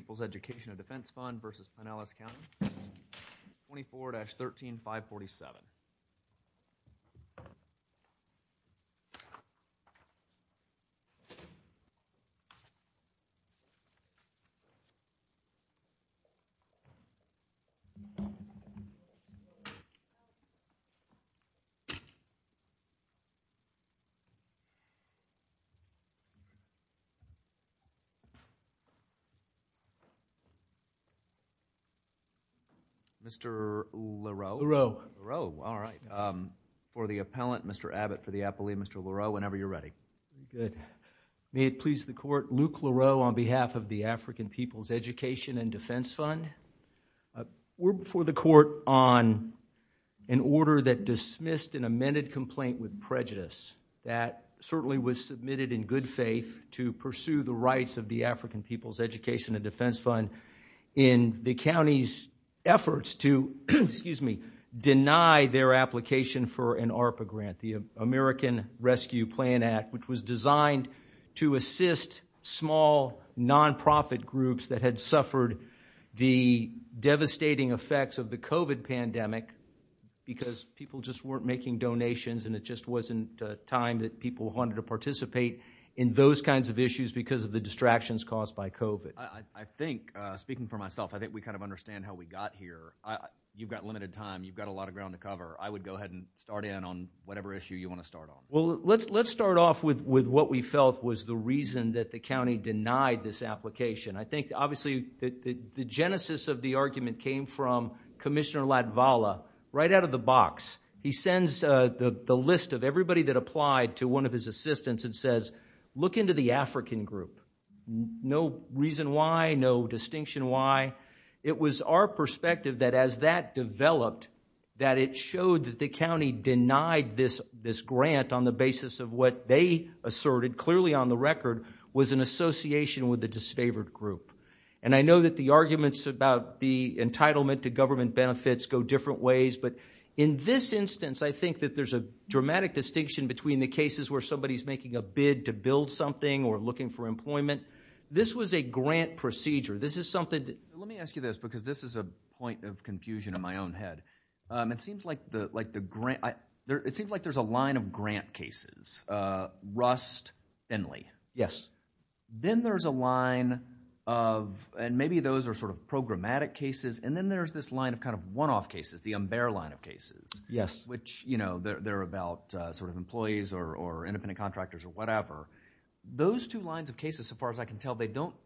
24-13547. Mr. LaRoe, for the appellant, Mr. Abbott for the appellee, Mr. LaRoe, whenever you're ready. May it please the court, Luke LaRoe on behalf of the African People's Education and Defense Fund. We're before the court on an order that dismissed an amended complaint with prejudice that certainly was submitted in good faith to pursue the rights of the African People's Education and Defense Fund in the county's efforts to deny their application for an ARPA grant, the American Rescue Plan Act, which was designed to assist small nonprofit groups that had suffered the devastating effects of the COVID pandemic because people just weren't making donations and it just wasn't time that people wanted to participate in those kinds of issues because of the distractions caused by COVID. I think, speaking for myself, I think we kind of understand how we got here. You've got limited time. You've got a lot of ground to cover. I would go ahead and start in on whatever issue you want to start on. Well, let's start off with what we felt was the reason that the county denied this application. I think, obviously, the genesis of the argument came from Commissioner Latvala, right out of the box. He sends the list of everybody that applied to one of his assistants and says, look into the African group. No reason why, no distinction why. It was our perspective that as that developed, that it showed that the county denied this grant on the basis of what they asserted, clearly on the record, was an association with the disfavored group. And I know that the arguments about the entitlement to government benefits go different ways, but in this instance, I think that there's a dramatic distinction between the cases where somebody's making a bid to build something or looking for employment. This was a grant procedure. This is something that... Let me ask you this, because this is a point of confusion in my own head. It seems like the grant... It seems like there's a line of grant cases, Rust, Finley. Yes. Then there's a line of, and maybe those are sort of programmatic cases, and then there's this line of kind of one-off cases, the Umber line of cases, which they're about sort of employees or independent contractors or whatever. Those two lines of cases, so far as I can tell, they don't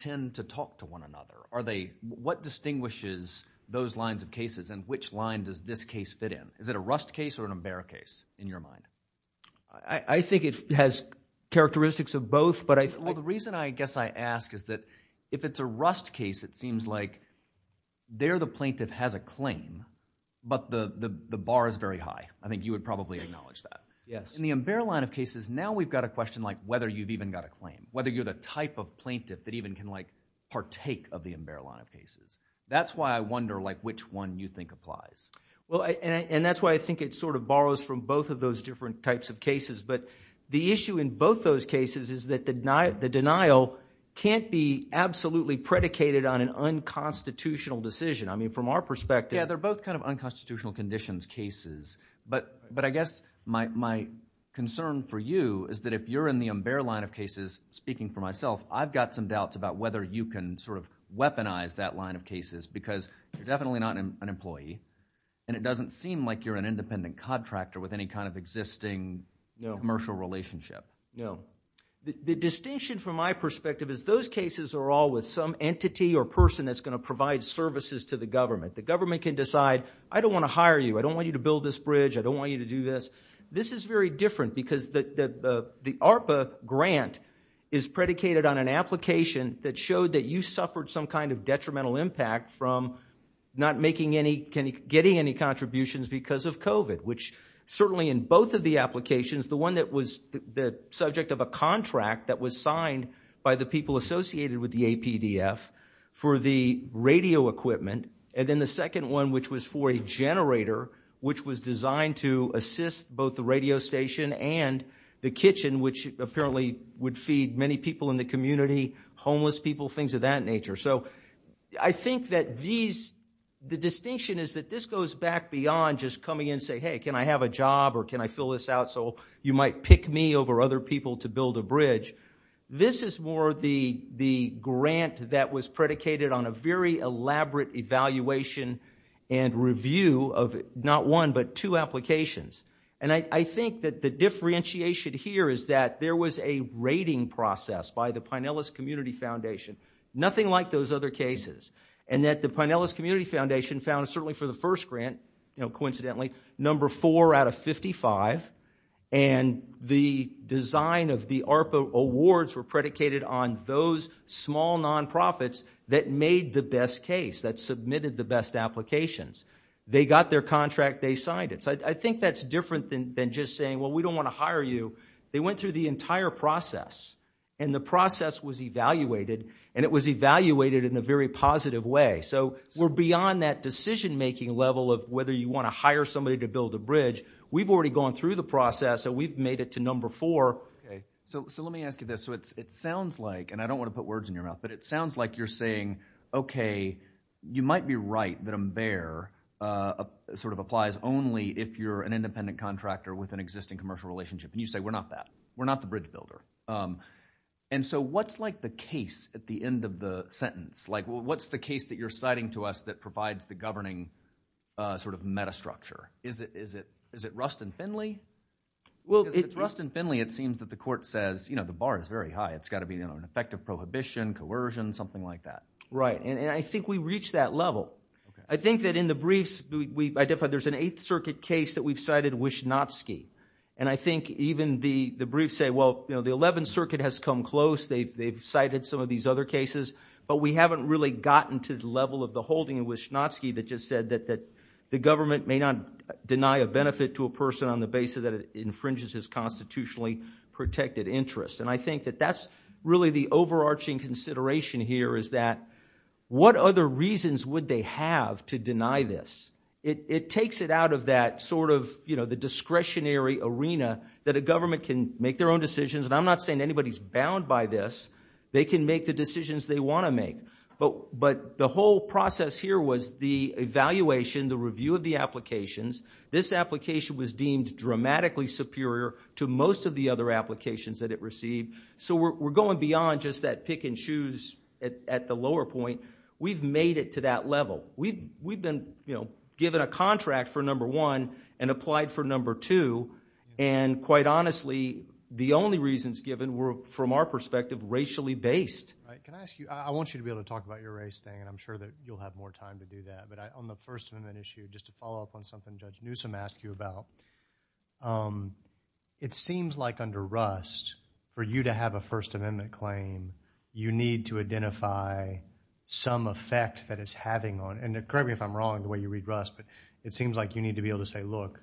tend to talk to one another. What distinguishes those lines of cases, and which line does this case fit in? Is it a Rust case or an Umber case, in your mind? I think it has characteristics of both, but I... The reason I guess I ask is that if it's a Rust case, it seems like there the plaintiff has a claim, but the bar is very high. I think you would probably acknowledge that. Yes. In the Umber line of cases, now we've got a question like whether you've even got a claim, whether you're the type of plaintiff that even can partake of the Umber line of That's why I wonder which one you think applies. That's why I think it sort of borrows from both of those different types of cases. The issue in both those cases is that the denial can't be absolutely predicated on an unconstitutional decision. From our perspective... Yes, they're both kind of unconstitutional conditions cases. I guess my concern for you is that if you're in the Umber line of cases, speaking for myself, I've got some doubts about whether you can sort of weaponize that line of cases because you're definitely not an employee, and it doesn't seem like you're an independent contractor with any kind of existing commercial relationship. No. The distinction from my perspective is those cases are all with some entity or person that's going to provide services to the government. The government can decide, I don't want to hire you, I don't want you to build this bridge, I don't want you to do this. This is very different because the ARPA grant is predicated on an application that showed that you suffered some kind of detrimental impact from not making any, getting any contributions because of COVID, which certainly in both of the applications, the one that was the subject of a contract that was signed by the people associated with the APDF for the radio equipment, and then the second one, which was for a generator, which was designed to assist both the radio station and the kitchen, which apparently would feed many people in the community, homeless people, things of that nature. So I think that these, the distinction is that this goes back beyond just coming in and saying, hey, can I have a job or can I fill this out so you might pick me over other people to build a bridge. This is more the grant that was predicated on a very elaborate evaluation and review of not one, but two applications. And I think that the differentiation here is that there was a rating process by the Pinellas Community Foundation. Nothing like those other cases. And that the Pinellas Community Foundation found, certainly for the first grant, you know, coincidentally, number four out of 55, and the design of the ARPA awards were predicated on those small nonprofits that made the best case, that submitted the best applications. They got their contract, they signed it. So I think that's different than just saying, well, we don't want to hire you. They went through the entire process, and the process was evaluated, and it was evaluated in a very positive way. So we're beyond that decision-making level of whether you want to hire somebody to build a bridge. We've already gone through the process, so we've made it to number four. Okay. So let me ask you this. So it sounds like, and I don't want to put words in your mouth, but it sounds like you're saying, okay, you might be right that MBEAR sort of applies only if you're an independent contractor with an existing commercial relationship, and you say, we're not that. We're not the bridge builder. And so what's, like, the case at the end of the sentence? Like what's the case that you're citing to us that provides the governing sort of metastructure? Is it Rust and Finley? Because if it's Rust and Finley, it seems that the court says, you know, the bar is very high. It's got to be, you know, an effective prohibition, coercion, something like that. Right. And I think we reached that level. Okay. I think that in the briefs, there's an Eighth Circuit case that we've cited Wischnoski. And I think even the briefs say, well, you know, the Eleventh Circuit has come close. They've cited some of these other cases. But we haven't really gotten to the level of the holding of Wischnoski that just said that the government may not deny a benefit to a person on the basis that it infringes his constitutionally protected interest. And I think that that's really the overarching consideration here is that what other reasons would they have to deny this? It takes it out of that sort of, you know, the discretionary arena that a government can make their own decisions. And I'm not saying anybody's bound by this. They can make the decisions they want to make. But the whole process here was the evaluation, the review of the applications. This application was deemed dramatically superior to most of the other applications that it received. So we're going beyond just that pick and choose at the lower point. We've made it to that level. We've been, you know, given a contract for number one and applied for number two. And quite honestly, the only reasons given were, from our perspective, racially based. Can I ask you, I want you to be able to talk about your race thing, and I'm sure that you'll have more time to do that. But on the First Amendment issue, just to follow up on something Judge Newsom asked you about, it seems like under Rust, for you to have a First Amendment claim, you need to identify some effect that it's having on, and correct me if I'm wrong the way you read Rust, but it seems like you need to be able to say, look,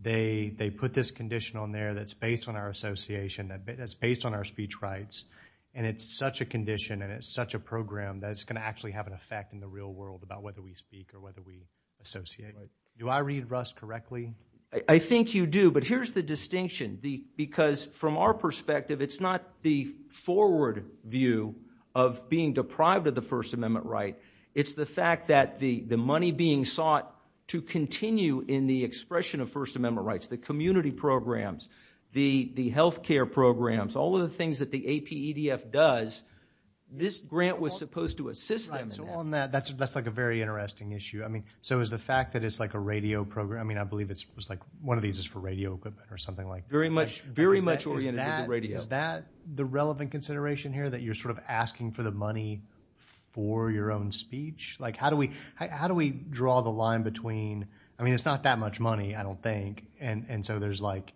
they put this condition on there that's based on our association, that's based on our speech rights, and it's such a condition and it's such a program that it's going to actually have an effect in the real world about whether we speak or whether we associate. Do I read Rust correctly? I think you do. But here's the distinction. Because from our perspective, it's not the forward view of being deprived of the First Amendment right, it's the fact that the money being sought to continue in the expression of First Amendment rights, the community programs, the healthcare programs, all of the things that the APEDF does, this grant was supposed to assist them in that. Right, so on that, that's like a very interesting issue. So is the fact that it's like a radio program, I mean, I believe one of these is for radio equipment or something like that. Very much oriented to the radio. Is that the relevant consideration here, that you're sort of asking for the money for your own speech? Like how do we draw the line between, I mean, it's not that much money, I don't think, and so there's like,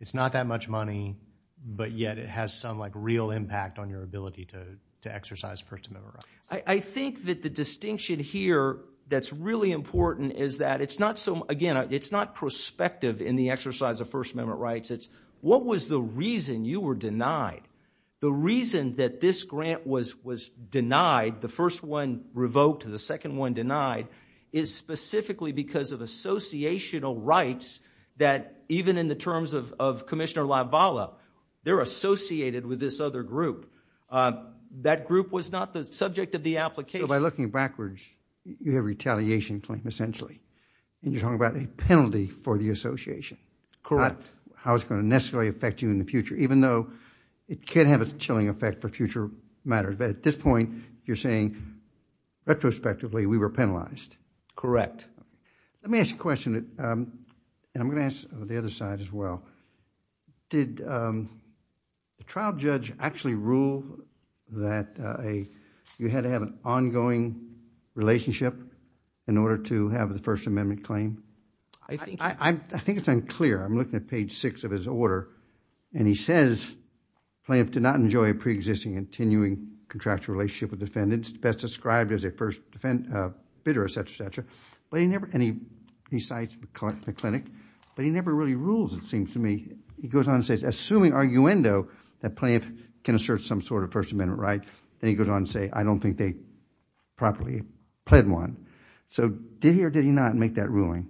it's not that much money, but yet it has some like real impact on your ability to exercise First Amendment rights. I think that the distinction here that's really important is that it's not so, again, it's not prospective in the exercise of First Amendment rights, it's what was the reason you were denied? The reason that this grant was denied, the first one revoked, the second one denied, is specifically because of associational rights that even in the terms of Commissioner LaValle, they're associated with this other group. That group was not the subject of the application. So by looking backwards, you have retaliation claim, essentially, and you're talking about a penalty for the association. Correct. Not how it's going to necessarily affect you in the future, even though it can have a chilling effect for future matters, but at this point, you're saying retrospectively, we were penalized. Correct. Let me ask you a question, and I'm going to ask the other side as well. Did the trial judge actually rule that you had to have an ongoing relationship in order to have the First Amendment claim? I think it's unclear. I'm looking at page six of his order, and he says, plaintiff did not enjoy a preexisting and continuing contractual relationship with defendants, best described as a first bidder, et cetera, et cetera, and he cites the clinic, but he never really rules, it goes on and says, assuming arguendo, that plaintiff can assert some sort of First Amendment right, and he goes on to say, I don't think they properly pled one. So did he or did he not make that ruling?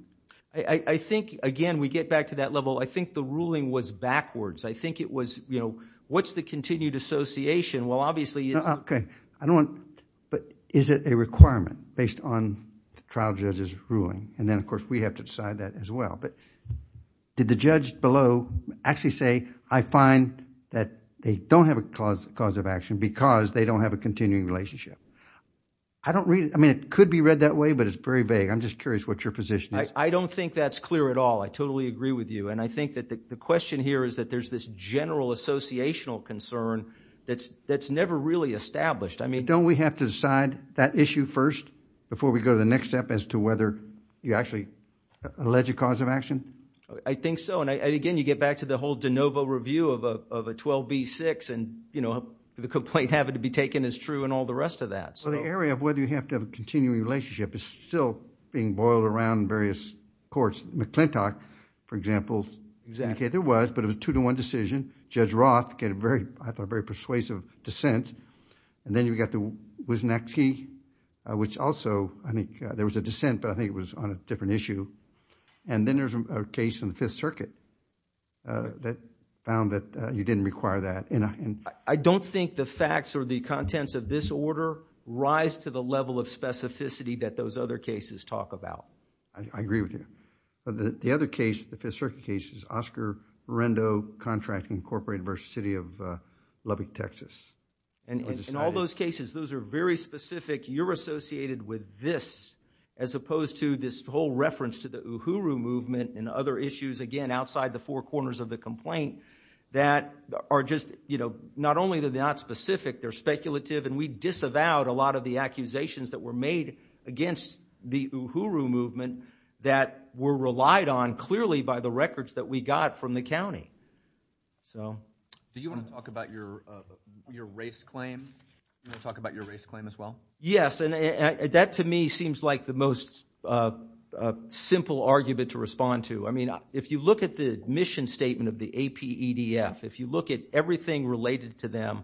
I think, again, we get back to that level, I think the ruling was backwards. I think it was, you know, what's the continued association? Well, obviously, it's... Okay. I don't want... But is it a requirement based on the trial judge's ruling? And then, of course, we have to decide that as well. But did the judge below actually say, I find that they don't have a cause of action because they don't have a continuing relationship? I don't really... I mean, it could be read that way, but it's very vague. I'm just curious what your position is. I don't think that's clear at all. I totally agree with you, and I think that the question here is that there's this general associational concern that's never really established. I mean... Don't we have to decide that issue first before we go to the next step as to whether you actually have an alleged cause of action? I think so. And, again, you get back to the whole de novo review of a 12b-6 and, you know, the complaint having to be taken as true and all the rest of that. Well, the area of whether you have to have a continuing relationship is still being boiled around various courts. McClintock, for example, indicated there was, but it was a two-to-one decision. Judge Roth gave a very, I thought, very persuasive dissent. And then you've got the Wisniewski, which also, I mean, there was a dissent, but I think it was on a different issue. And then there's a case in the Fifth Circuit that found that you didn't require that. I don't think the facts or the contents of this order rise to the level of specificity that those other cases talk about. I agree with you. The other case, the Fifth Circuit case, is Oscar Rendo Contract Incorporated v. City of Lubbock, Texas. In all those cases, those are very specific. You're associated with this, as opposed to this whole reference to the Uhuru Movement and other issues, again, outside the four corners of the complaint, that are just, you know, not only are they not specific, they're speculative, and we disavowed a lot of the accusations that were made against the Uhuru Movement that were relied on, clearly, by the records that we got from the county. So. Do you want to talk about your race claim? Do you want to talk about your race claim as well? Yes, and that, to me, seems like the most simple argument to respond to. I mean, if you look at the admission statement of the APEDF, if you look at everything related to them,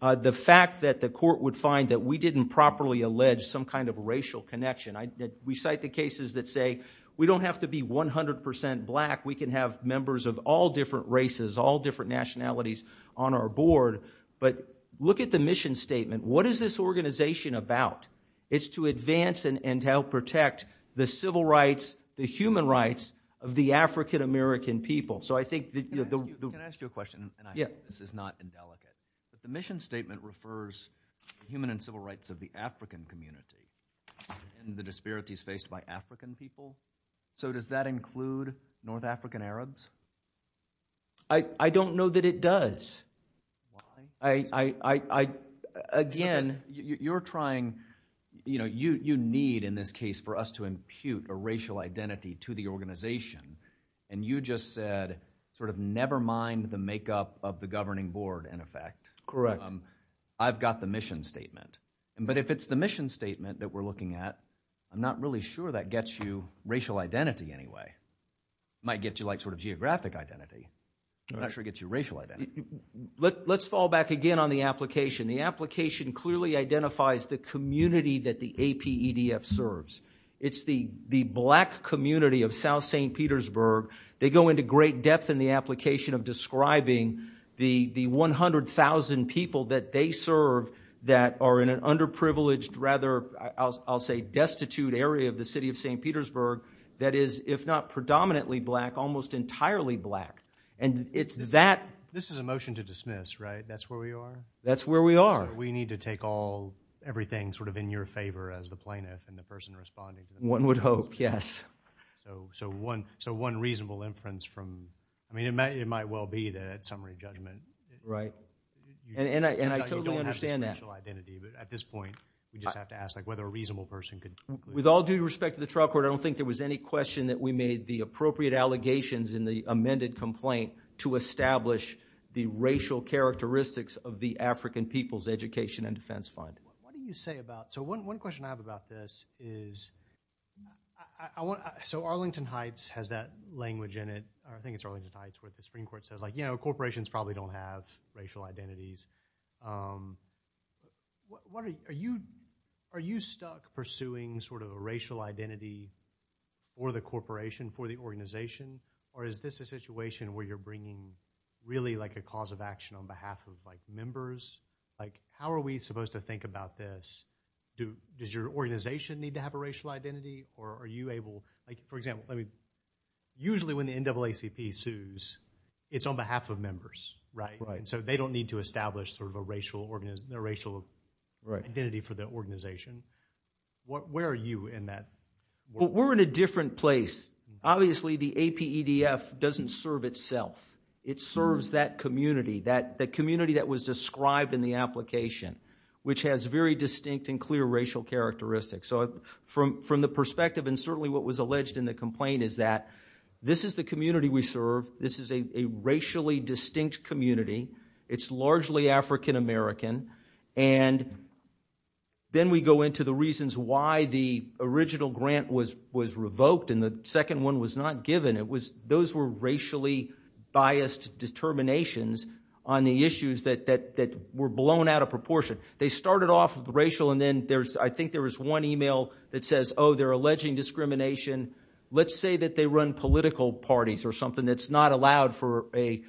the fact that the court would find that we didn't properly allege some kind of racial connection. We cite the cases that say, we don't have to be 100% black, we can have members of all different races, all different nationalities on our board, but look at the mission statement. What is this organization about? It's to advance and help protect the civil rights, the human rights, of the African American people. Can I ask you a question, and I hope this is not indelicate, but the mission statement refers to the human and civil rights of the African community, and the disparities faced by African people. So does that include North African Arabs? I don't know that it does. Why? I, again, you're trying, you know, you need, in this case, for us to impute a racial identity to the organization, and you just said, sort of, never mind the makeup of the governing board, in effect. Correct. I've got the mission statement. But if it's the mission statement that we're looking at, I'm not really sure that gets you racial identity, anyway. Might get you, like, sort of geographic identity, but I'm not sure it gets you racial identity. Let's fall back again on the application. The application clearly identifies the community that the APEDF serves. It's the black community of South St. Petersburg. They go into great depth in the application of describing the 100,000 people that they serve that are in an underprivileged, rather, I'll say, destitute area of the city of St. Petersburg that is, if not predominantly black, almost entirely black. And it's that. This is a motion to dismiss, right? That's where we are? That's where we are. So we need to take all, everything, sort of, in your favor as the plaintiff and the person responding to the motion. One would hope, yes. So one reasonable inference from, I mean, it might well be that at summary judgment. Right. And I totally understand that. You don't have a special identity, but at this point, you just have to ask, like, whether a reasonable person could. With all due respect to the trial court, I don't think there was any question that we made the appropriate allegations in the amended complaint to establish the racial characteristics of the African People's Education and Defense Fund. What do you say about, so one question I have about this is, so Arlington Heights has that language in it, I think it's Arlington Heights, where the Supreme Court says, like, you know, corporations probably don't have racial identities. Are you stuck pursuing, sort of, a racial identity for the corporation, for the organization? Or is this a situation where you're bringing, really, like a cause of action on behalf of, like, members? Like, how are we supposed to think about this? Does your organization need to have a racial identity, or are you able, like, for example, let me, usually when the NAACP sues, it's on behalf of members. Right. So they don't need to establish, sort of, a racial identity for the organization. Where are you in that? Well, we're in a different place. Obviously, the APEDF doesn't serve itself. It serves that community, that community that was described in the application, which has very distinct and clear racial characteristics. So from the perspective, and certainly what was alleged in the complaint, is that this is the community we serve. This is a racially distinct community. It's largely African American. And then we go into the reasons why the original grant was revoked, and the second one was not given. Those were racially biased determinations on the issues that were blown out of proportion. They started off racial, and then there's, I think there was one email that says, oh, they're alleging discrimination. Let's say that they run political parties, or something that's not allowed for a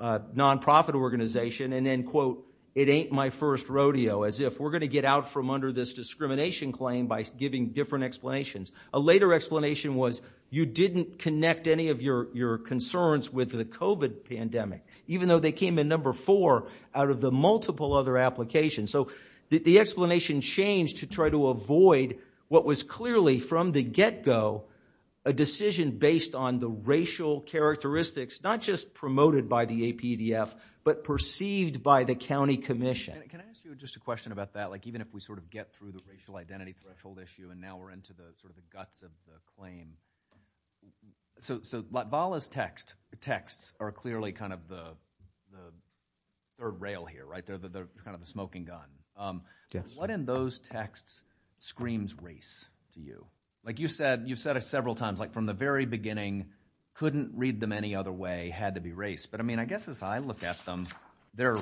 nonprofit organization, and then, quote, it ain't my first rodeo, as if we're going to get out from under this discrimination claim by giving different explanations. A later explanation was, you didn't connect any of your concerns with the COVID pandemic, even though they came in number four out of the multiple other applications. So the explanation changed to try to avoid what was clearly, from the get-go, a decision based on the racial characteristics, not just promoted by the APDF, but perceived by the county commission. Can I ask you just a question about that? Like, even if we sort of get through the racial identity threshold issue, and now we're into the guts of the claim. So, Vala's texts are clearly kind of the third rail here, right? They're kind of the smoking gun. What in those texts screams race to you? Like you've said several times, like, from the very beginning, couldn't read them any other way, had to be race. But I mean, I guess as I look at them, they're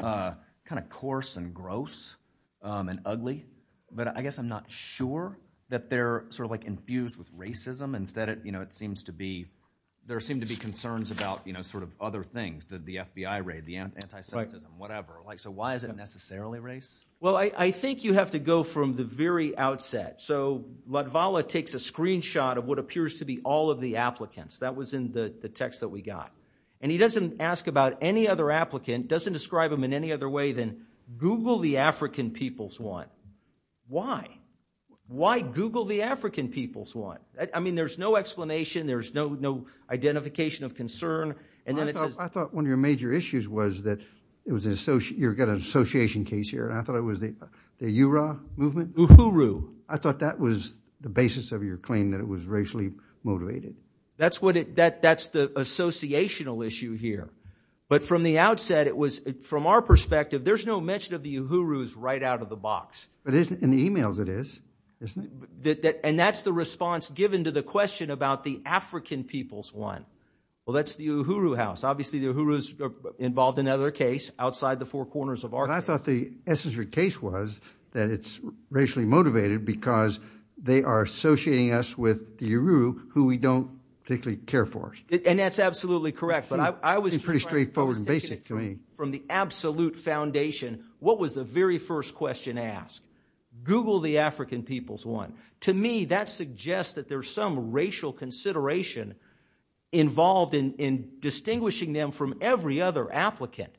kind of coarse and gross and ugly, but I guess I'm not sure that they're sort of like infused with racism, instead it, you know, it seems to be, there seem to be concerns about, you know, sort of other things that the FBI raid, the anti-Semitism, whatever. Like, so why is it necessarily race? Well, I think you have to go from the very outset. So what Vala takes a screenshot of what appears to be all of the applicants. That was in the text that we got. And he doesn't ask about any other applicant, doesn't describe them in any other way than Google the African people's one. Why Google the African people's one? I mean, there's no explanation. There's no identification of concern. And then it says- I thought one of your major issues was that it was an associate, you've got an association case here. And I thought it was the URA movement. Uhuru. I thought that was the basis of your claim that it was racially motivated. That's what it, that's the associational issue here. But from the outset, it was, from our perspective, there's no mention of the Uhurus right out of the box. But isn't in the emails it is, isn't it? And that's the response given to the question about the African people's one. Well, that's the Uhuru house. Obviously the Uhurus are involved in another case outside the four corners of our case. I thought the essence of your case was that it's racially motivated because they are associating us with the Uhuru who we don't particularly care for. And that's absolutely correct. It's pretty straightforward and basic to me. From the absolute foundation, what was the very first question asked? Google the African people's one. To me, that suggests that there's some racial consideration involved in, in distinguishing them from every other applicant.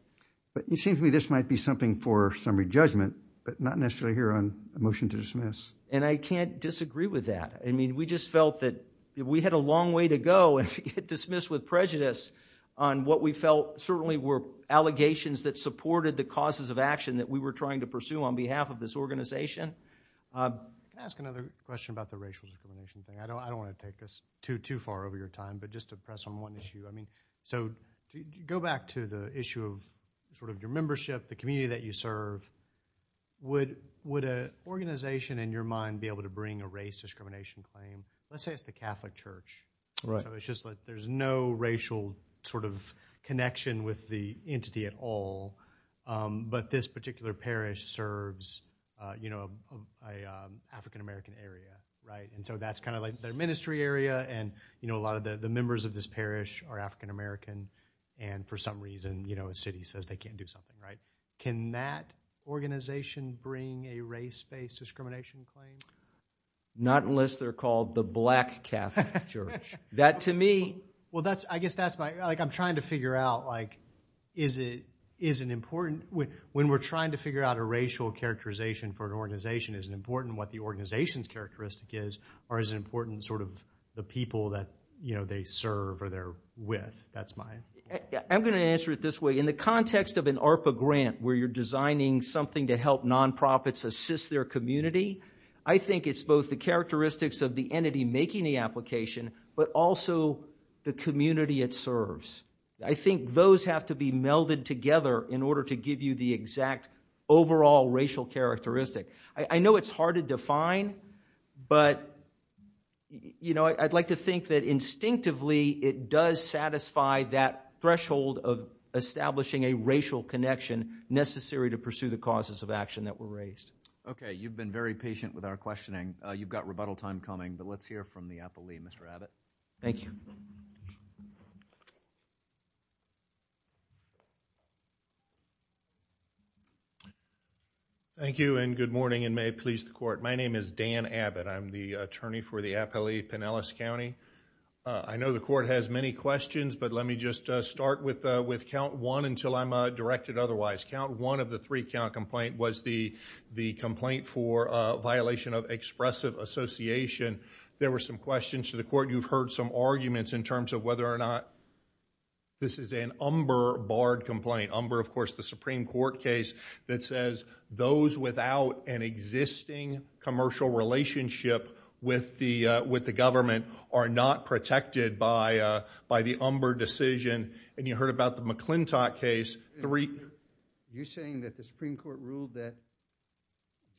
But it seems to me this might be something for summary judgment, but not necessarily here on a motion to dismiss. And I can't disagree with that. We just felt that we had a long way to go to get dismissed with prejudice on what we felt certainly were allegations that supported the causes of action that we were trying to pursue on behalf of this organization. Ask another question about the racial discrimination thing. I don't want to take this too far over your time, but just to press on one issue. So go back to the issue of sort of your membership, the community that you serve. Would, would a organization in your mind be able to bring a race discrimination claim? Let's say it's the Catholic Church. Right. So it's just like there's no racial sort of connection with the entity at all. But this particular parish serves, you know, a African American area, right? And so that's kind of like their ministry area. And you know, a lot of the members of this parish are African American. And for some reason, you know, a city says they can't do something right. Can that organization bring a race-based discrimination claim? Not unless they're called the Black Catholic Church. That to me. Well, that's, I guess that's my, like, I'm trying to figure out, like, is it, is an important, when we're trying to figure out a racial characterization for an organization, is it important what the organization's characteristic is, or is it important sort of the people that, you know, they serve or they're with? That's my... I'm going to answer it this way. In the context of an ARPA grant, where you're designing something to help nonprofits assist their community, I think it's both the characteristics of the entity making the application, but also the community it serves. I think those have to be melded together in order to give you the exact overall racial characteristic. I know it's hard to define, but, you know, I'd like to think that instinctively it does satisfy that threshold of establishing a racial connection necessary to pursue the causes of action that were raised. You've been very patient with our questioning. You've got rebuttal time coming, but let's hear from the APALE, Mr. Abbott. Thank you. Thank you, and good morning, and may it please the Court. My name is Dan Abbott. I'm the attorney for the APALE Pinellas County. I know the Court has many questions, but let me just start with count one until I'm directed otherwise. Count one of the three-count complaint was the complaint for violation of expressive association. There were some questions to the Court. You've heard some arguments in terms of whether or not this is an umber barred complaint. Umber, of course, the Supreme Court case that says those without an existing commercial relationship with the government are not protected by the umber decision, and you heard about the McClintock case. You're saying that the Supreme Court ruled that,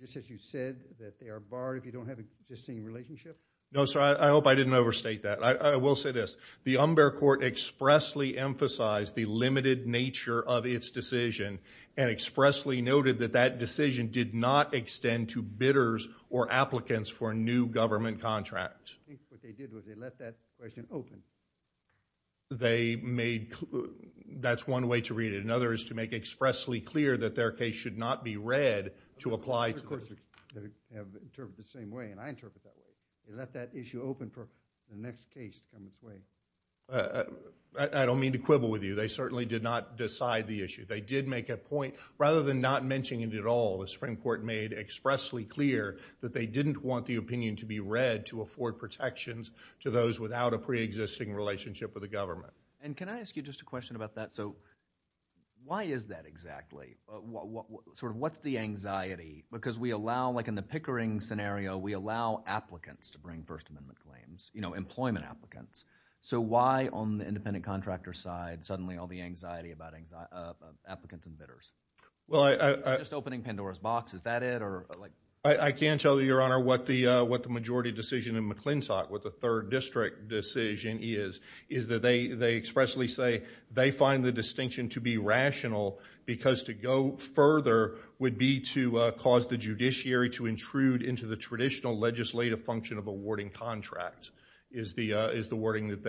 just as you said, that they are barred if you don't have an existing relationship? No, sir. I hope I didn't overstate that. I will say this. The umber court expressly emphasized the limited nature of its decision and expressly noted that that decision did not extend to bidders or applicants for a new government contract. I think what they did was they let that question open. They made, that's one way to read it. Another is to make expressly clear that their case should not be read to apply to the. I heard courts that have interpreted it the same way, and I interpret that way. They let that issue open for the next case to come to play. I don't mean to quibble with you. They certainly did not decide the issue. They did make a point, rather than not mentioning it at all, the Supreme Court made expressly clear that they didn't want the opinion to be read to afford protections to those without a preexisting relationship with the government. Can I ask you just a question about that? Why is that exactly? What's the anxiety? Because we allow, like in the Pickering scenario, we allow applicants to bring First Amendment claims, employment applicants. Why on the independent contractor side, suddenly all the anxiety about applicants and bidders? Just opening Pandora's box, is that it? I can't tell you, Your Honor, what the majority decision in McClintock, what the third district decision is, is that they expressly say they find the distinction to be rational because to go further would be to cause the judiciary to intrude into the traditional legislative function of awarding contracts, is the wording that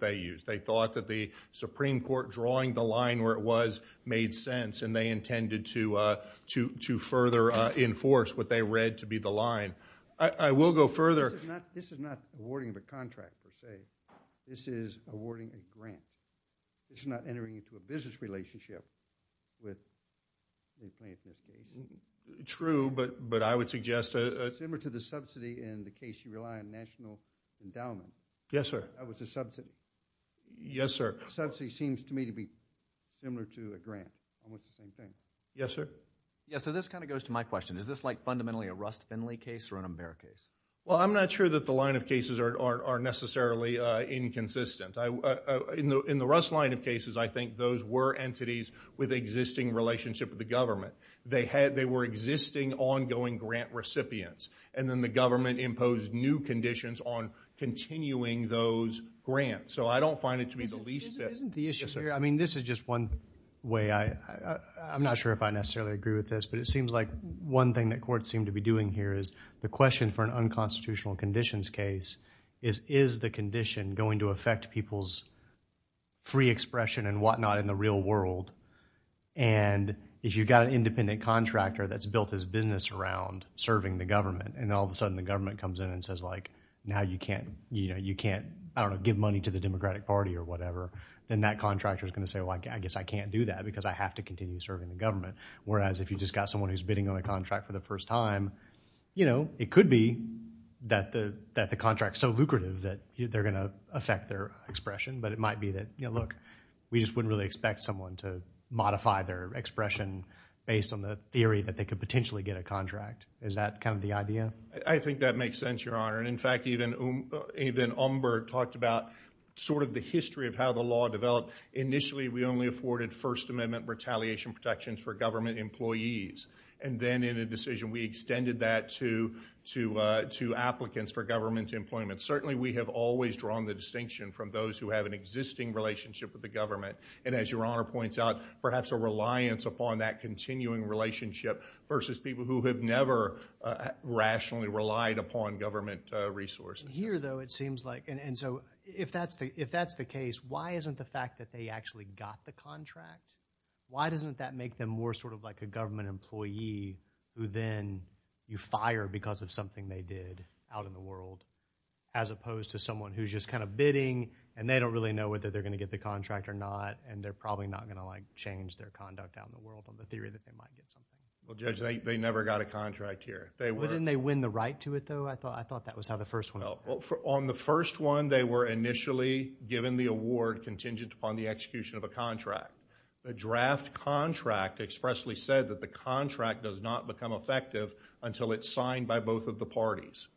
they used. They thought that the Supreme Court drawing the line where it was made sense, and they intended to further enforce what they read to be the line. I will go further. This is not awarding of a contract, per se. This is awarding a grant. This is not entering into a business relationship with the plaintiff. True, but I would suggest a... Similar to the subsidy in the case you rely on national endowment. Yes, sir. That was a subsidy. Yes, sir. Subsidy seems to me to be similar to a grant. Almost the same thing. Yes, sir. Yes, so this kind of goes to my question. Is this like fundamentally a Rust-Finley case or an Amber case? Well, I'm not sure that the line of cases are necessarily inconsistent. In the Rust line of cases, I think those were entities with existing relationship with the government. They were existing, ongoing grant recipients, and then the government imposed new conditions on continuing those grants. So I don't find it to be the least bit... Isn't the issue here... Yes, sir. I mean, this is just one way. I'm not sure if I necessarily agree with this, but it seems like one thing that courts seem to be doing here is the question for an unconstitutional conditions case is, is the condition going to affect people's free expression and whatnot in the real world? And if you've got an independent contractor that's built his business around serving the government, and all of a sudden the government comes in and says, like, now you can't, you know, you can't, I don't know, give money to the Democratic Party or whatever, then that contractor's going to say, well, I guess I can't do that because I have to continue serving the government. Whereas, if you just got someone who's bidding on a contract for the first time, you know, it could be that the contract's so lucrative that they're going to affect their expression. But it might be that, you know, look, we just wouldn't really expect someone to modify their expression based on the theory that they could potentially get a contract. Is that kind of the idea? I think that makes sense, Your Honor. And in fact, even Umberg talked about sort of the history of how the law developed. Initially, we only afforded First Amendment retaliation protections for government employees. And then in a decision, we extended that to applicants for government employment. But certainly, we have always drawn the distinction from those who have an existing relationship with the government. And as Your Honor points out, perhaps a reliance upon that continuing relationship versus people who have never rationally relied upon government resources. Here though, it seems like, and so, if that's the case, why isn't the fact that they actually got the contract, why doesn't that make them more sort of like a government employee who then you fire because of something they did out in the world, as opposed to someone who's just kind of bidding, and they don't really know whether they're going to get the contract or not, and they're probably not going to like change their conduct out in the world on the theory that they might get something. Well, Judge, they never got a contract here. Well, didn't they win the right to it though? I thought that was how the first one went. On the first one, they were initially given the award contingent upon the execution of a contract. The draft contract expressly said that the contract does not become effective until it's signed by both of the parties.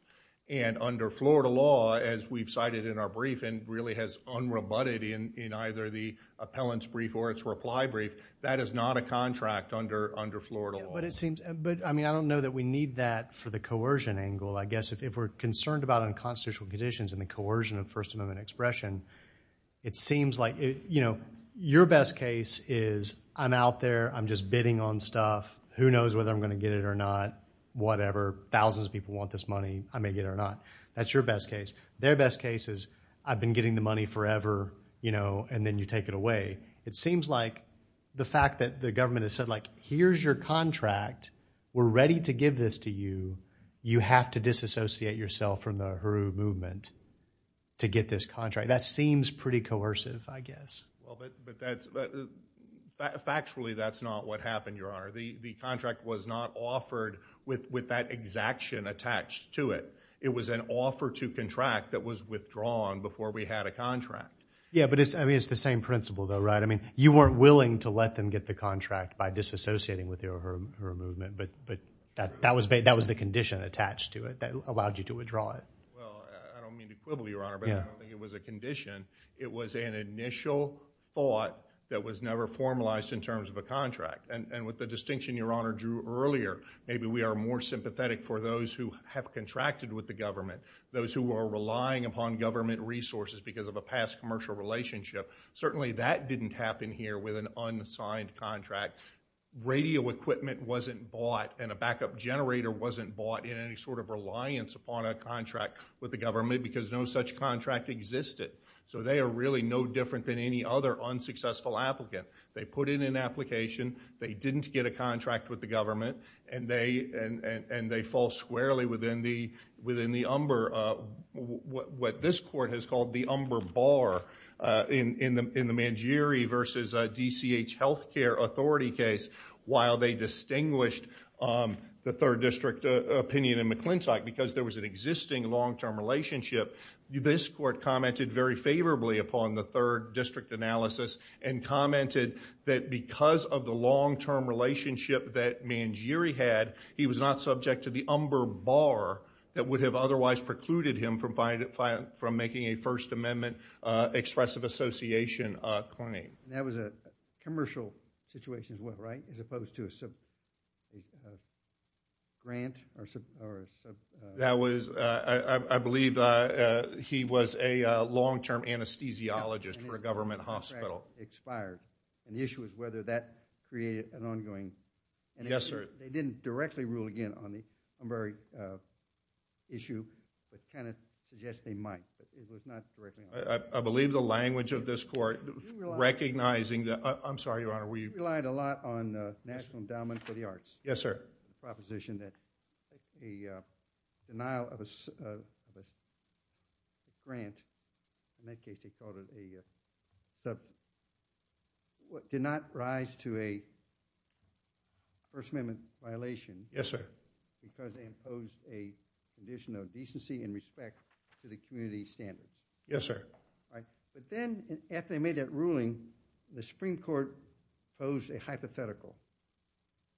And under Florida law, as we've cited in our brief, and really has unrebutted in either the appellant's brief or its reply brief, that is not a contract under Florida law. But it seems, I mean, I don't know that we need that for the coercion angle. I guess if we're concerned about unconstitutional conditions and the coercion of First Amendment expression, it seems like, you know, your best case is I'm out there, I'm just bidding on stuff, who knows whether I'm going to get it or not, whatever, thousands of people want this money, I may get it or not. That's your best case. Their best case is I've been getting the money forever, you know, and then you take it away. It seems like the fact that the government has said like, here's your contract, we're ready to give this to you, you have to disassociate yourself from the HRU movement to get this contract. That seems pretty coercive, I guess. Well, but that's, factually, that's not what happened, Your Honor. The contract was not offered with that exaction attached to it. It was an offer to contract that was withdrawn before we had a contract. Yeah, but it's, I mean, it's the same principle, though, right? I mean, you weren't willing to let them get the contract by disassociating with the HRU movement, but that was the condition attached to it that allowed you to withdraw it. Well, I don't mean to quibble, Your Honor, but I don't think it was a condition. It was an initial thought that was never formalized in terms of a contract, and with the distinction Your Honor drew earlier, maybe we are more sympathetic for those who have contracted with the government, those who are relying upon government resources because of a past commercial relationship. Certainly that didn't happen here with an unsigned contract. Radio equipment wasn't bought and a backup generator wasn't bought in any sort of reliance upon a contract with the government because no such contract existed. So they are really no different than any other unsuccessful applicant. They put in an application, they didn't get a contract with the government, and they fall squarely within the umber, what this court has called the umber bar in the Mangieri versus DCH Healthcare Authority case while they distinguished the third district opinion in McClintock because there was an existing long-term relationship. This court commented very favorably upon the third district analysis and commented that because of the long-term relationship that Mangieri had, he was not subject to the umber bar that would have otherwise precluded him from making a First Amendment expressive association claim. That was a commercial situation as well, right, as opposed to a sub-grant or a... That was, I believe he was a long-term anesthesiologist for a government hospital. And the issue was whether that created an ongoing... Yes, sir. They didn't directly rule again on the umber issue that kind of suggests they might, but it was not directly... I believe the language of this court recognizing the... I'm sorry, Your Honor, were you... We relied a lot on National Endowment for the Arts... Yes, sir.... proposition that the denial of a grant, in that case they called it a... did not rise to a First Amendment violation... Yes, sir.... because they imposed a condition of decency and respect to the community standard. Yes, sir. Right. But then, after they made that ruling, the Supreme Court posed a hypothetical,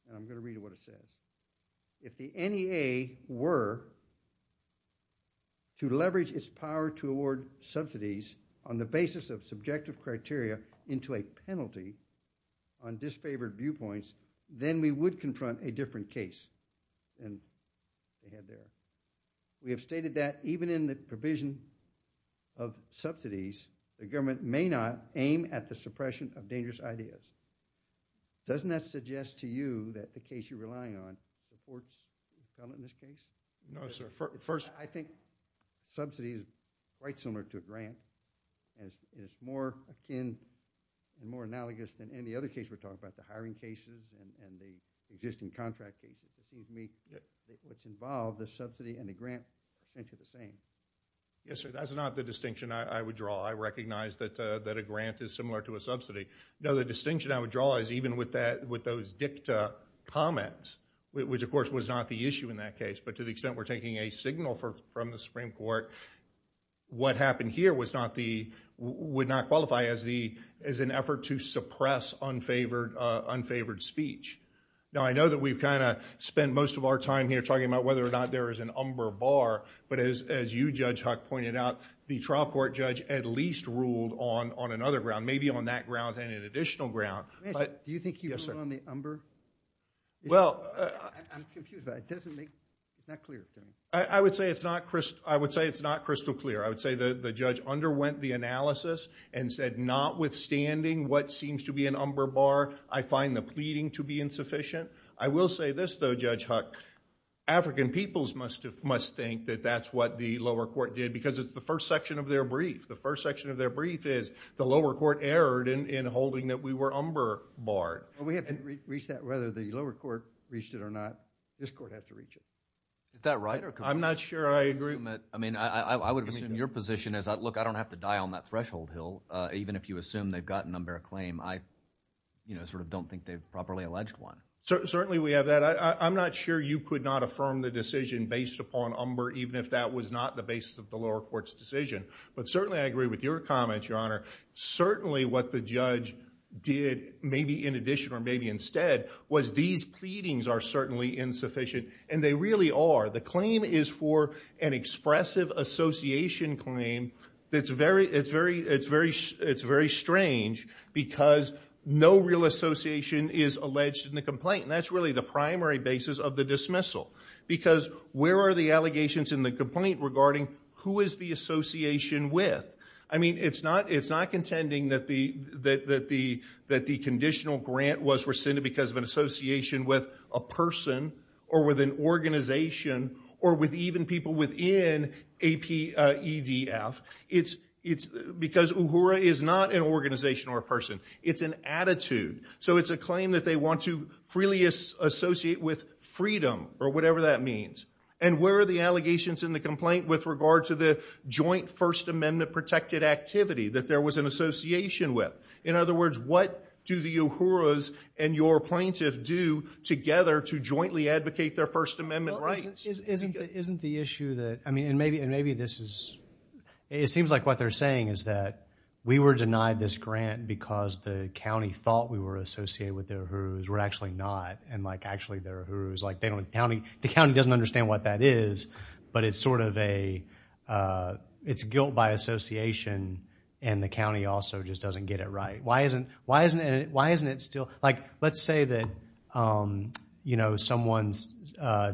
and I'm going to read you what it says. If the NEA were to leverage its power to award subsidies on the basis of subjective criteria into a penalty on disfavored viewpoints, then we would confront a different case than we had there. We have stated that even in the provision of subsidies, the government may not aim at the suppression of dangerous ideas. Doesn't that suggest to you that the case you're relying on... No, sir. First...... I think subsidies are quite similar to a grant, and it's more akin, more analogous than any other case we're talking about, the hiring cases and the existing contract cases. Excuse me. It's involved, the subsidy and the grant, I think are the same. Yes, sir. That's not the distinction I would draw. I recognize that a grant is similar to a subsidy. No, the distinction I would draw is even with those dicta comments, which, of course, was not the issue in that case, but to the extent we're taking a signal from the Supreme Court, what happened here was not the... would not qualify as an effort to suppress unfavored speech. Now, I know that we've kind of spent most of our time here talking about whether or not there is an umber bar, but as you, Judge Huck, pointed out, the trial court judge at least ruled on another ground, maybe on that ground and an additional ground, but... Do you think he ruled on the umber? Yes, sir. I'm confused, but it doesn't make... it's not clear to me. I would say it's not crystal clear. I would say the judge underwent the analysis and said, notwithstanding what seems to be an umber bar, I find the pleading to be insufficient. I will say this, though, Judge Huck. African peoples must think that that's what the lower court did because it's the first section of their brief. The first section of their brief is the lower court erred in holding that we were umber barred. We haven't reached that, whether the lower court reached it or not. This court has to reach it. Is that right? I'm not sure I agree... I mean, I would assume your position is, look, I don't have to die on that threshold, Hill, even if you assume they've gotten an umber claim, I sort of don't think they've properly alleged one. Certainly we have that. I'm not sure you could not affirm the decision based upon umber, even if that was not the basis of the lower court's decision. But certainly I agree with your comment, Your Honor. Certainly what the judge did, maybe in addition or maybe instead, was these pleadings are certainly insufficient, and they really are. The claim is for an expressive association claim that's very strange because no real association is alleged in the complaint, and that's really the primary basis of the dismissal because where are the allegations in the complaint regarding who is the association with? I mean, it's not contending that the conditional grant was rescinded because of an association with a person or with an organization or with even people within EDF. It's because Uhura is not an organization or a person. It's an attitude. So it's a claim that they want to freely associate with freedom or whatever that means. And where are the allegations in the complaint with regard to the joint First Amendment protected activity that there was an association with? In other words, what do the Uhuras and your plaintiff do together to jointly advocate their First Amendment rights? Isn't the issue that, I mean, and maybe this is, it seems like what they're saying is that we were denied this grant because the county thought we were associated with the Uhuras. We're actually not. And like actually the Uhuras, like they don't, the county doesn't understand what that is, but it's sort of a, it's guilt by association and the county also just doesn't get it right. Why isn't, why isn't it, why isn't it still, like, let's say that, you know, someone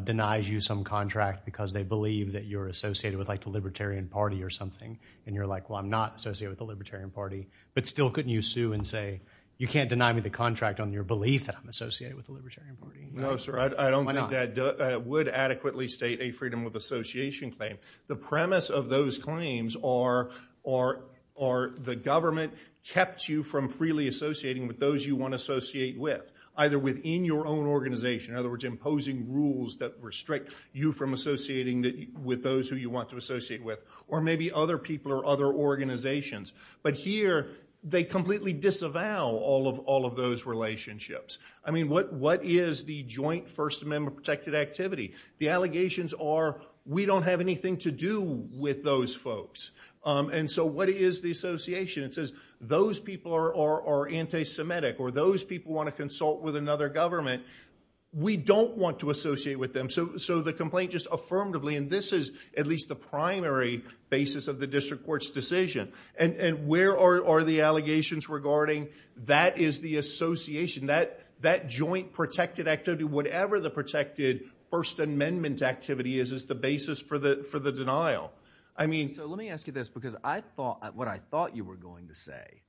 denies you some contract because they believe that you're associated with like the Libertarian Party or something. And you're like, well, I'm not associated with the Libertarian Party. But still couldn't you sue and say, you can't deny me the contract on your belief that I'm associated with the Libertarian Party. No, sir. I don't think that. I don't think you can adequately state a freedom of association claim. The premise of those claims are the government kept you from freely associating with those you want to associate with, either within your own organization, in other words, imposing rules that restrict you from associating with those who you want to associate with. Or maybe other people or other organizations. But here, they completely disavow all of those relationships. I mean, what is the joint First Amendment protected activity? The allegations are, we don't have anything to do with those folks. And so what is the association? It says, those people are anti-Semitic. Or those people want to consult with another government. We don't want to associate with them. So the complaint just affirmatively, and this is at least the primary basis of the district court's decision. And where are the allegations regarding that is the association, that joint protected activity, whatever the protected First Amendment activity is, is the basis for the denial. I mean... So let me ask you this, because what I thought you were going to say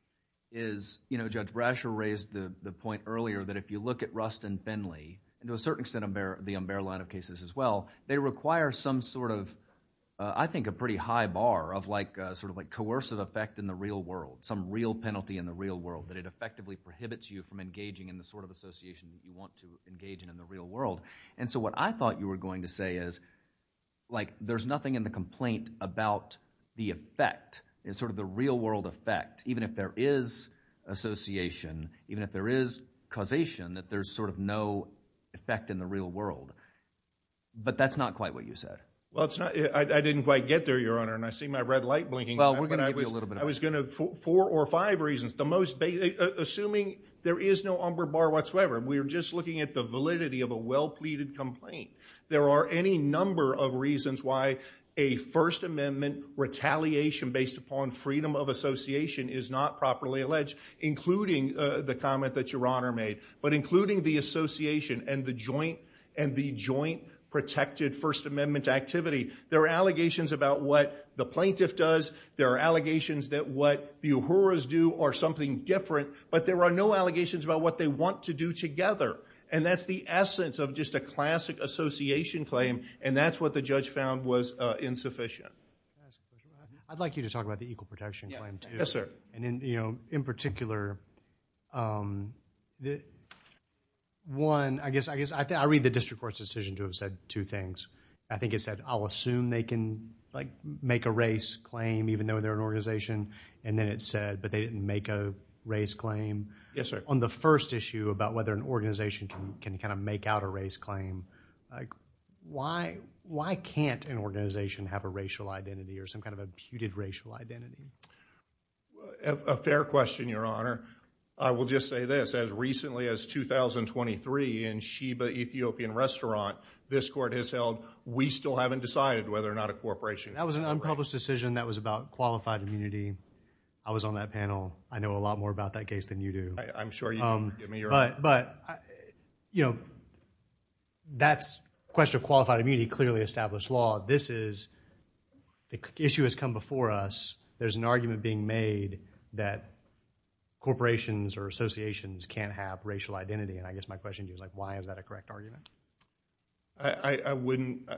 is, Judge Brasher raised the point earlier that if you look at Rust and Finley, and to a certain extent, the Umbera line of cases as well, they require some sort of, I think, a pretty high bar of coercive effect in the real world, some real penalty in the real world, that it effectively prohibits you from engaging in the sort of association that you want to engage in in the real world. And so what I thought you were going to say is, like, there's nothing in the complaint about the effect, sort of the real world effect, even if there is association, even if there is causation, that there's sort of no effect in the real world. But that's not quite what you said. Well, it's not... I didn't quite get there, Your Honor, and I see my red light blinking. Well, we're going to give you a little bit of... I was going to... four or five reasons, the most... assuming there is no Umber bar whatsoever. We're just looking at the validity of a well-pleaded complaint. There are any number of reasons why a First Amendment retaliation based upon freedom of association is not properly alleged, including the comment that Your Honor made, but including the association and the joint protected First Amendment activity. There are allegations about what the plaintiff does. There are allegations that what the Uhuras do are something different, but there are no allegations about what they want to do together. And that's the essence of just a classic association claim, and that's what the judge found was insufficient. I'd like you to talk about the equal protection claim, too. Yes, sir. And, you know, in particular, one, I guess I read the district court's decision to have said two things. I think it said, I'll assume they can, like, make a race claim even though they're an organization. And then it said, but they didn't make a race claim. Yes, sir. On the first issue about whether an organization can kind of make out a race claim, like, why can't an organization have a racial identity or some kind of a puted racial identity? A fair question, Your Honor. I will just say this. As recently as 2023 in Sheba Ethiopian Restaurant, this court has held, we still haven't decided whether or not a corporation can. That was an unpublished decision that was about qualified immunity. I was on that panel. I know a lot more about that case than you do. I'm sure you can give me your own. But, you know, that's a question of qualified immunity, clearly established law. This is, the issue has come before us. There's an argument being made that corporations or associations can't have racial identity. And I guess my question to you is, like, why is that a correct argument? I wouldn't,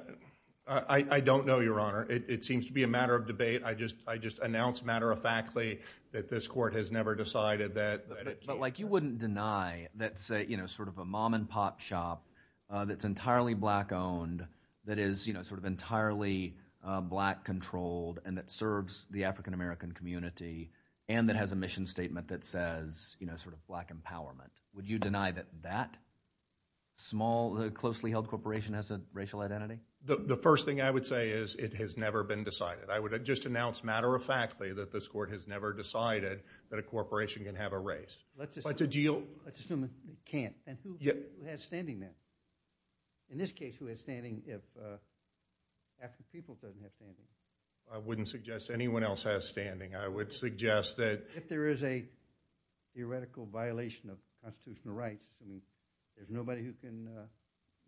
I don't know, Your Honor. It seems to be a matter of debate. I just announced matter-of-factly that this court has never decided that. But, like, you wouldn't deny that, say, you know, sort of a mom-and-pop shop that's entirely black-owned, that is, you know, sort of entirely black-controlled, and that serves the African-American community, and that has a mission statement that says, you know, sort of black empowerment. Would you deny that that small, closely-held corporation has a racial identity? The first thing I would say is it has never been decided. I would just announce matter-of-factly that this court has never decided that a corporation can have a race. Let's assume it can't. And who has standing there? In this case, who has standing if African people doesn't have standing? I wouldn't suggest anyone else has standing. I would suggest that— If there is a theoretical violation of constitutional rights and there's nobody who can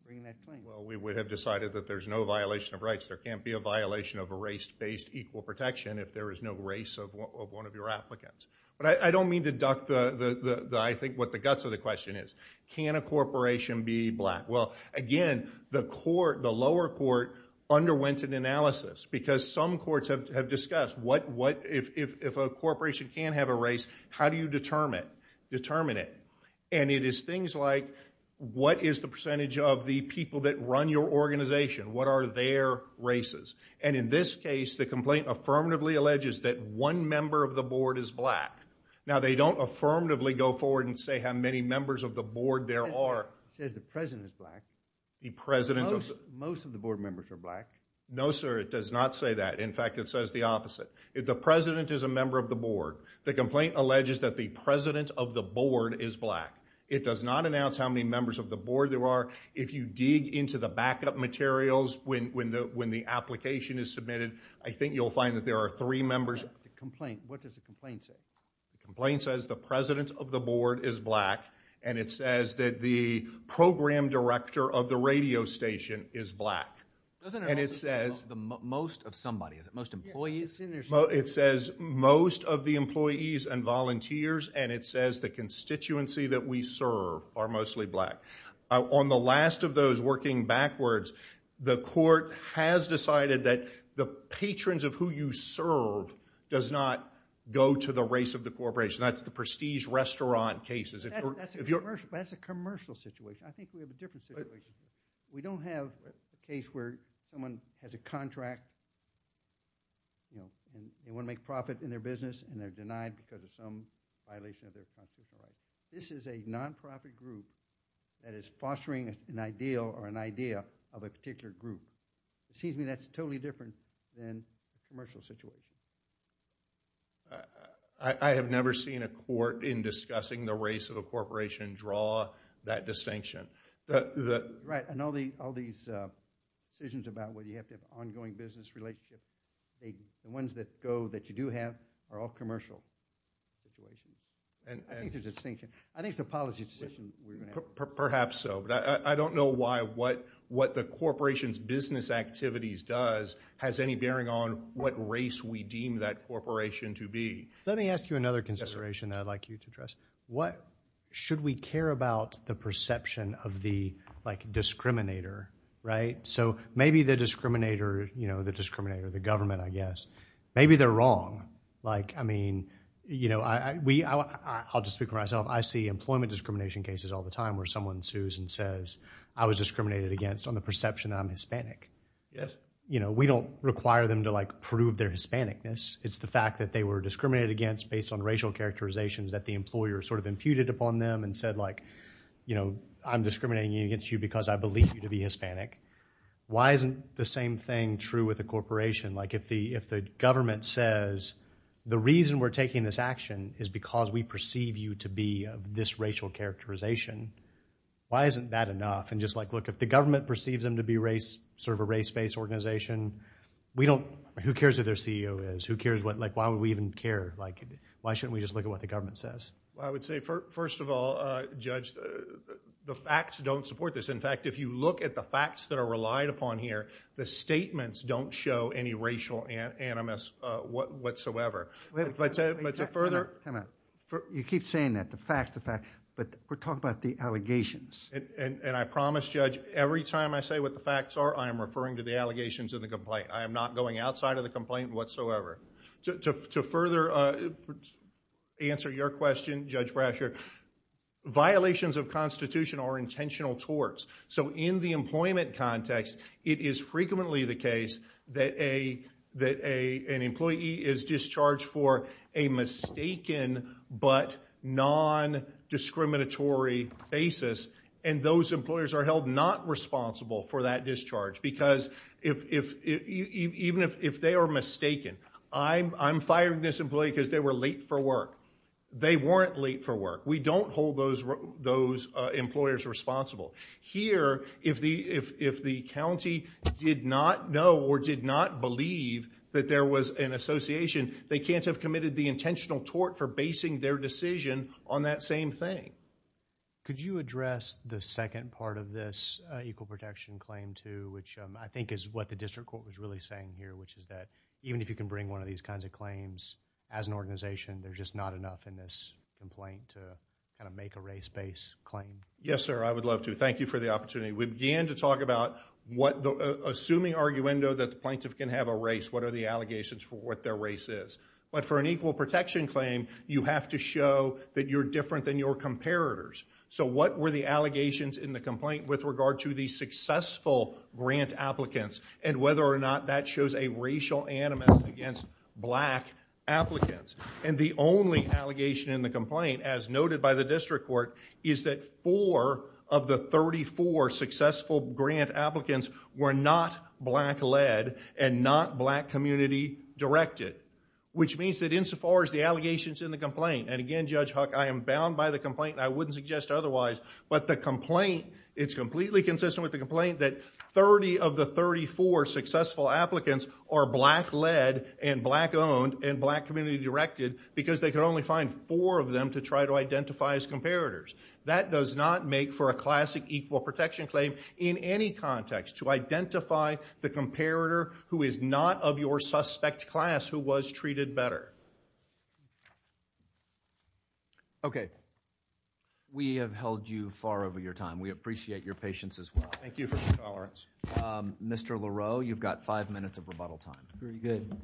bring that claim. Well, we would have decided that there's no violation of rights. There can't be a violation of a race-based equal protection if there is no race of one of your applicants. But I don't mean to duck the, I think, what the guts of the question is. Can a corporation be black? Well, again, the lower court underwent an analysis because some courts have discussed what if a corporation can have a race, how do you determine it? And it is things like, what is the percentage of the people that run your organization? What are their races? And in this case, the complaint affirmatively alleges that one member of the board is black. Now, they don't affirmatively go forward and say how many members of the board there are. It says the president is black. The president— Most of the board members are black. No, sir. It does not say that. In fact, it says the opposite. The president is a member of the board. The complaint alleges that the president of the board is black. It does not announce how many members of the board there are. If you dig into the backup materials when the application is submitted, I think you'll find that there are three members— The complaint, what does the complaint say? The complaint says the president of the board is black, and it says that the program director of the radio station is black, and it says— Doesn't it also say the most of somebody? Is it most employees? It says most of the employees and volunteers, and it says the constituency that we serve are mostly black. On the last of those working backwards, the court has decided that the patrons of who you serve does not go to the race of the corporation. That's the Prestige Restaurant cases. That's a commercial situation. I think we have a different situation. We don't have a case where someone has a contract and they want to make profit in their business and they're denied because of some violation of their contract. This is a nonprofit group that is fostering an ideal or an idea of a particular group. It seems to me that's totally different than a commercial situation. I have never seen a court in discussing the race of a corporation draw that distinction. Right. And all these decisions about whether you have to have ongoing business relationships, the ones that go that you do have are all commercial. And I think there's a distinction. I think it's a policy decision. Perhaps so. I don't know why what the corporation's business activities does has any bearing on what race we deem that corporation to be. Let me ask you another consideration that I'd like you to address. Should we care about the perception of the discriminator, right? So maybe the discriminator, you know, the discriminator, the government, I guess. Maybe they're wrong. Like, I mean, you know, I'll just speak for myself. I see employment discrimination cases all the time where someone sues and says, I was discriminated against on the perception that I'm Hispanic. You know, we don't require them to like prove their Hispanicness. It's the fact that they were discriminated against based on racial characterizations that the employer sort of imputed upon them and said, like, you know, I'm discriminating against you because I believe you to be Hispanic. Why isn't the same thing true with a corporation? Like if the if the government says the reason we're taking this action is because we perceive you to be of this racial characterization, why isn't that enough? And just like, look, if the government perceives them to be race, sort of a race-based organization, we don't, who cares who their CEO is? Who cares what, like, why would we even care? Like, why shouldn't we just look at what the government says? I would say, first of all, Judge, the facts don't support this. In fact, if you look at the facts that are relied upon here, the statements don't show any racial animus whatsoever. But to further... Wait a minute. You keep saying that. The facts, the facts. But we're talking about the allegations. And I promise, Judge, every time I say what the facts are, I am referring to the allegations of the complaint. I am not going outside of the complaint whatsoever. To further answer your question, Judge Brasher, violations of Constitution are intentional torts. So in the employment context, it is frequently the case that an employee is discharged for a mistaken but non-discriminatory basis. And those employers are held not responsible for that discharge. Because even if they are mistaken, I'm firing this employee because they were late for work. They weren't late for work. We don't hold those employers responsible. Here, if the county did not know or did not believe that there was an association, they can't have committed the intentional tort for basing their decision on that same thing. Could you address the second part of this equal protection claim, too, which I think is what the district court was really saying here, which is that even if you can bring one of these kinds of claims, as an organization, there's just not enough in this complaint to kind of make a race-based claim. Yes, sir. I would love to. Thank you for the opportunity. We began to talk about assuming arguendo that the plaintiff can have a race, what are the allegations for what their race is. But for an equal protection claim, you have to show that you're different than your comparators. So what were the allegations in the complaint with regard to the successful grant applicants and whether or not that shows a racial animus against black applicants? The only allegation in the complaint, as noted by the district court, is that four of the 34 successful grant applicants were not black-led and not black community-directed, which means that insofar as the allegations in the complaint, and again, Judge Huck, I am bound by the complaint and I wouldn't suggest otherwise, but the complaint, it's completely consistent with the complaint that 30 of the 34 successful applicants are black-led and black-owned and black community-directed because they could only find four of them to try to identify as comparators. That does not make for a classic equal protection claim in any context to identify the comparator who is not of your suspect class who was treated better. Okay. We have held you far over your time. We appreciate your patience as well. Thank you for your tolerance. Mr. Leroux, you've got five minutes of rebuttal time. Very good.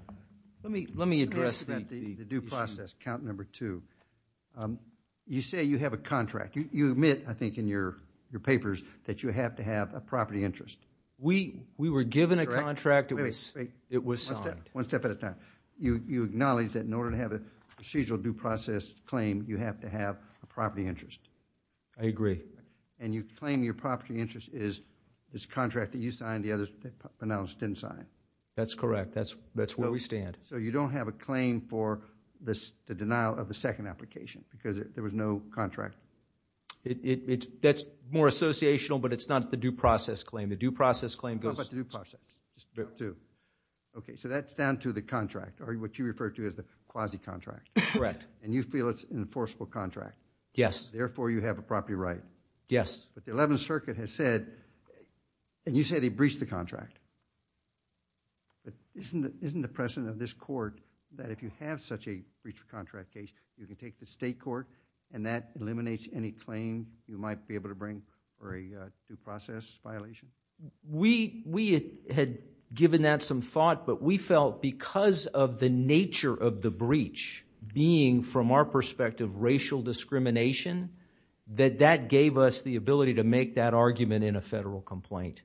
Let me address the due process, count number two. You say you have a contract. You admit, I think, in your papers that you have to have a property interest. We were given a contract. It was signed. One step at a time. You acknowledge that in order to have a procedural due process claim, you have to have a property interest. I agree. And you claim your property interest is this contract that you signed, the others, the Pinalis didn't sign. That's correct. That's where we stand. So you don't have a claim for the denial of the second application because there was no contract. That's more associational, but it's not the due process claim. The due process claim goes... How about the due process? It's the two. Okay. So that's down to the contract, or what you refer to as the quasi-contract. Correct. And you feel it's an enforceable contract. Yes. Therefore, you have a property right. Yes. But the 11th Circuit has said, and you say they breached the contract. But isn't the precedent of this court that if you have such a breach of contract case, you can take the state court and that eliminates any claim you might be able to bring for a due process violation? We had given that some thought, but we felt because of the nature of the breach being from our perspective racial discrimination, that that gave us the ability to make that argument in a federal complaint.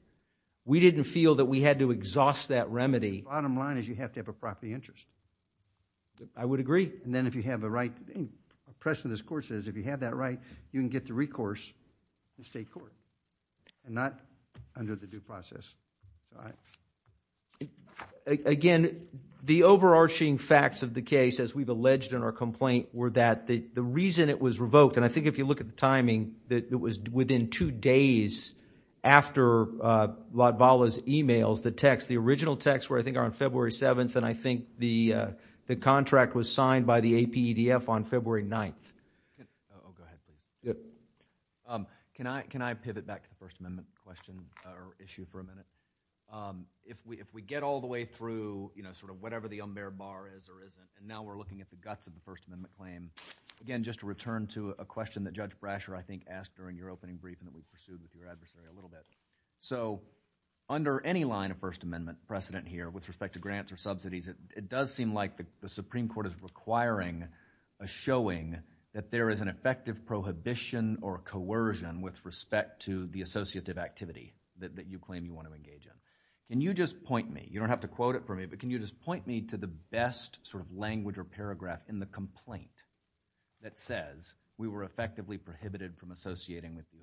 We didn't feel that we had to exhaust that remedy. Bottom line is you have to have a property interest. I would agree. And then if you have the right... The precedent of this court says if you have that right, you can get the recourse in state court and not under the due process. Again, the overarching facts of the case, as we've alleged in our complaint, were that the reason it was revoked, and I think if you look at the timing, that it was within two days after Latvala's e-mails, the text, the original text were I think on February 7th, and I think the contract was signed by the APEDF on February 9th. Oh, go ahead, please. Can I pivot back to the First Amendment question or issue for a minute? If we get all the way through sort of whatever the umber bar is or isn't, and now we're looking at the guts of the First Amendment claim, again, just to return to a question that Judge Kagan briefed and that we pursued with your adversary a little bit. So under any line of First Amendment precedent here with respect to grants or subsidies, it does seem like the Supreme Court is requiring a showing that there is an effective prohibition or coercion with respect to the associative activity that you claim you want to engage in. Can you just point me, you don't have to quote it for me, but can you just point me to the best sort of language or paragraph in the complaint that says we were effectively prohibited from associating with the Uhuru?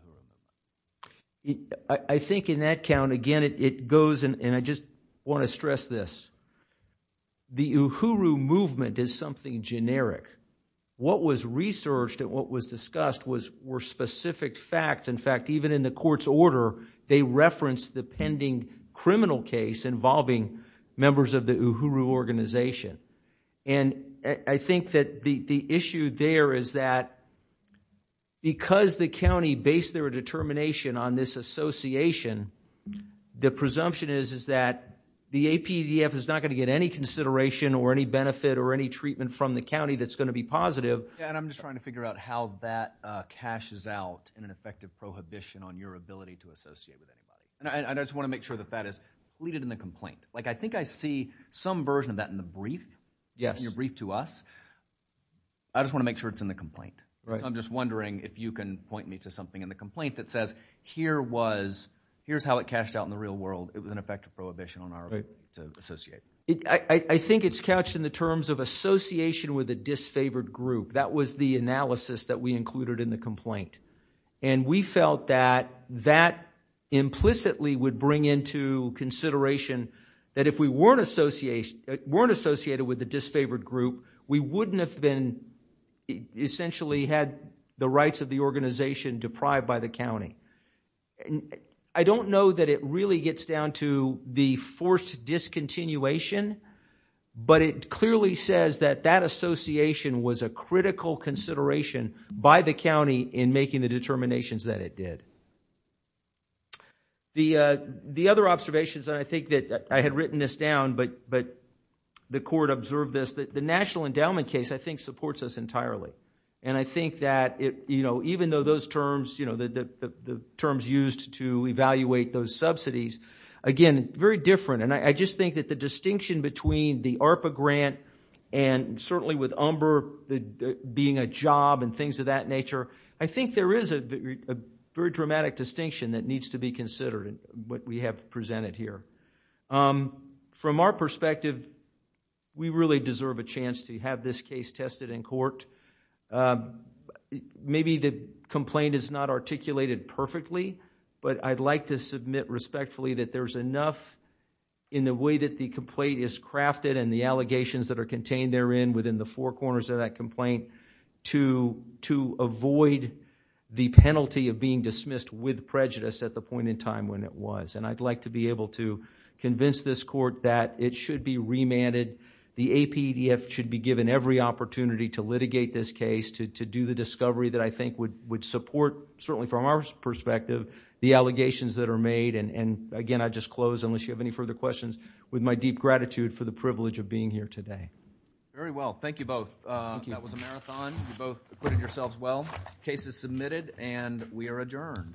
I think in that count, again, it goes, and I just want to stress this. The Uhuru movement is something generic. What was researched and what was discussed were specific facts. In fact, even in the court's order, they referenced the pending criminal case involving members of the Uhuru organization. And I think that the issue there is that because the county based their determination on this association, the presumption is that the APDF is not going to get any consideration or any benefit or any treatment from the county that's going to be positive. Yeah, and I'm just trying to figure out how that cashes out in an effective prohibition on your ability to associate with anybody. And I just want to make sure that that is deleted in the complaint. I think I see some version of that in the brief, in your brief to us. I just want to make sure it's in the complaint. So I'm just wondering if you can point me to something in the complaint that says, here's how it cashed out in the real world. It was an effective prohibition on our ability to associate. I think it's couched in the terms of association with a disfavored group. That was the analysis that we included in the complaint. And we felt that that implicitly would bring into consideration that if we weren't associated with the disfavored group, we wouldn't have been essentially had the rights of the organization deprived by the county. I don't know that it really gets down to the forced discontinuation, but it clearly says that that association was a critical consideration by the county in making the determinations that it did. The other observations, and I think that I had written this down, but the court observed this, that the National Endowment case, I think, supports us entirely. And I think that even though the terms used to evaluate those subsidies, again, very different. And I just think that the distinction between the ARPA grant and certainly with UMBR being a job and things of that nature, I think there is a very dramatic distinction that needs to be considered in what we have presented here. From our perspective, we really deserve a chance to have this case tested in court. Maybe the complaint is not articulated perfectly, but I'd like to submit respectfully that there's enough in the way that the complaint is crafted and the allegations that are contained therein within the four corners of that complaint to avoid the penalty of being dismissed with prejudice at the point in time when it was. And I'd like to be able to convince this court that it should be remanded. The APDF should be given every opportunity to litigate this case, to do the discovery that I think would support, certainly from our perspective, the allegations that are And again, I just close, unless you have any further questions, with my deep gratitude for the privilege of being here today. Very well. Thank you both. Thank you. That was a marathon. You both put it yourselves well. Case is submitted and we are adjourned. All rise.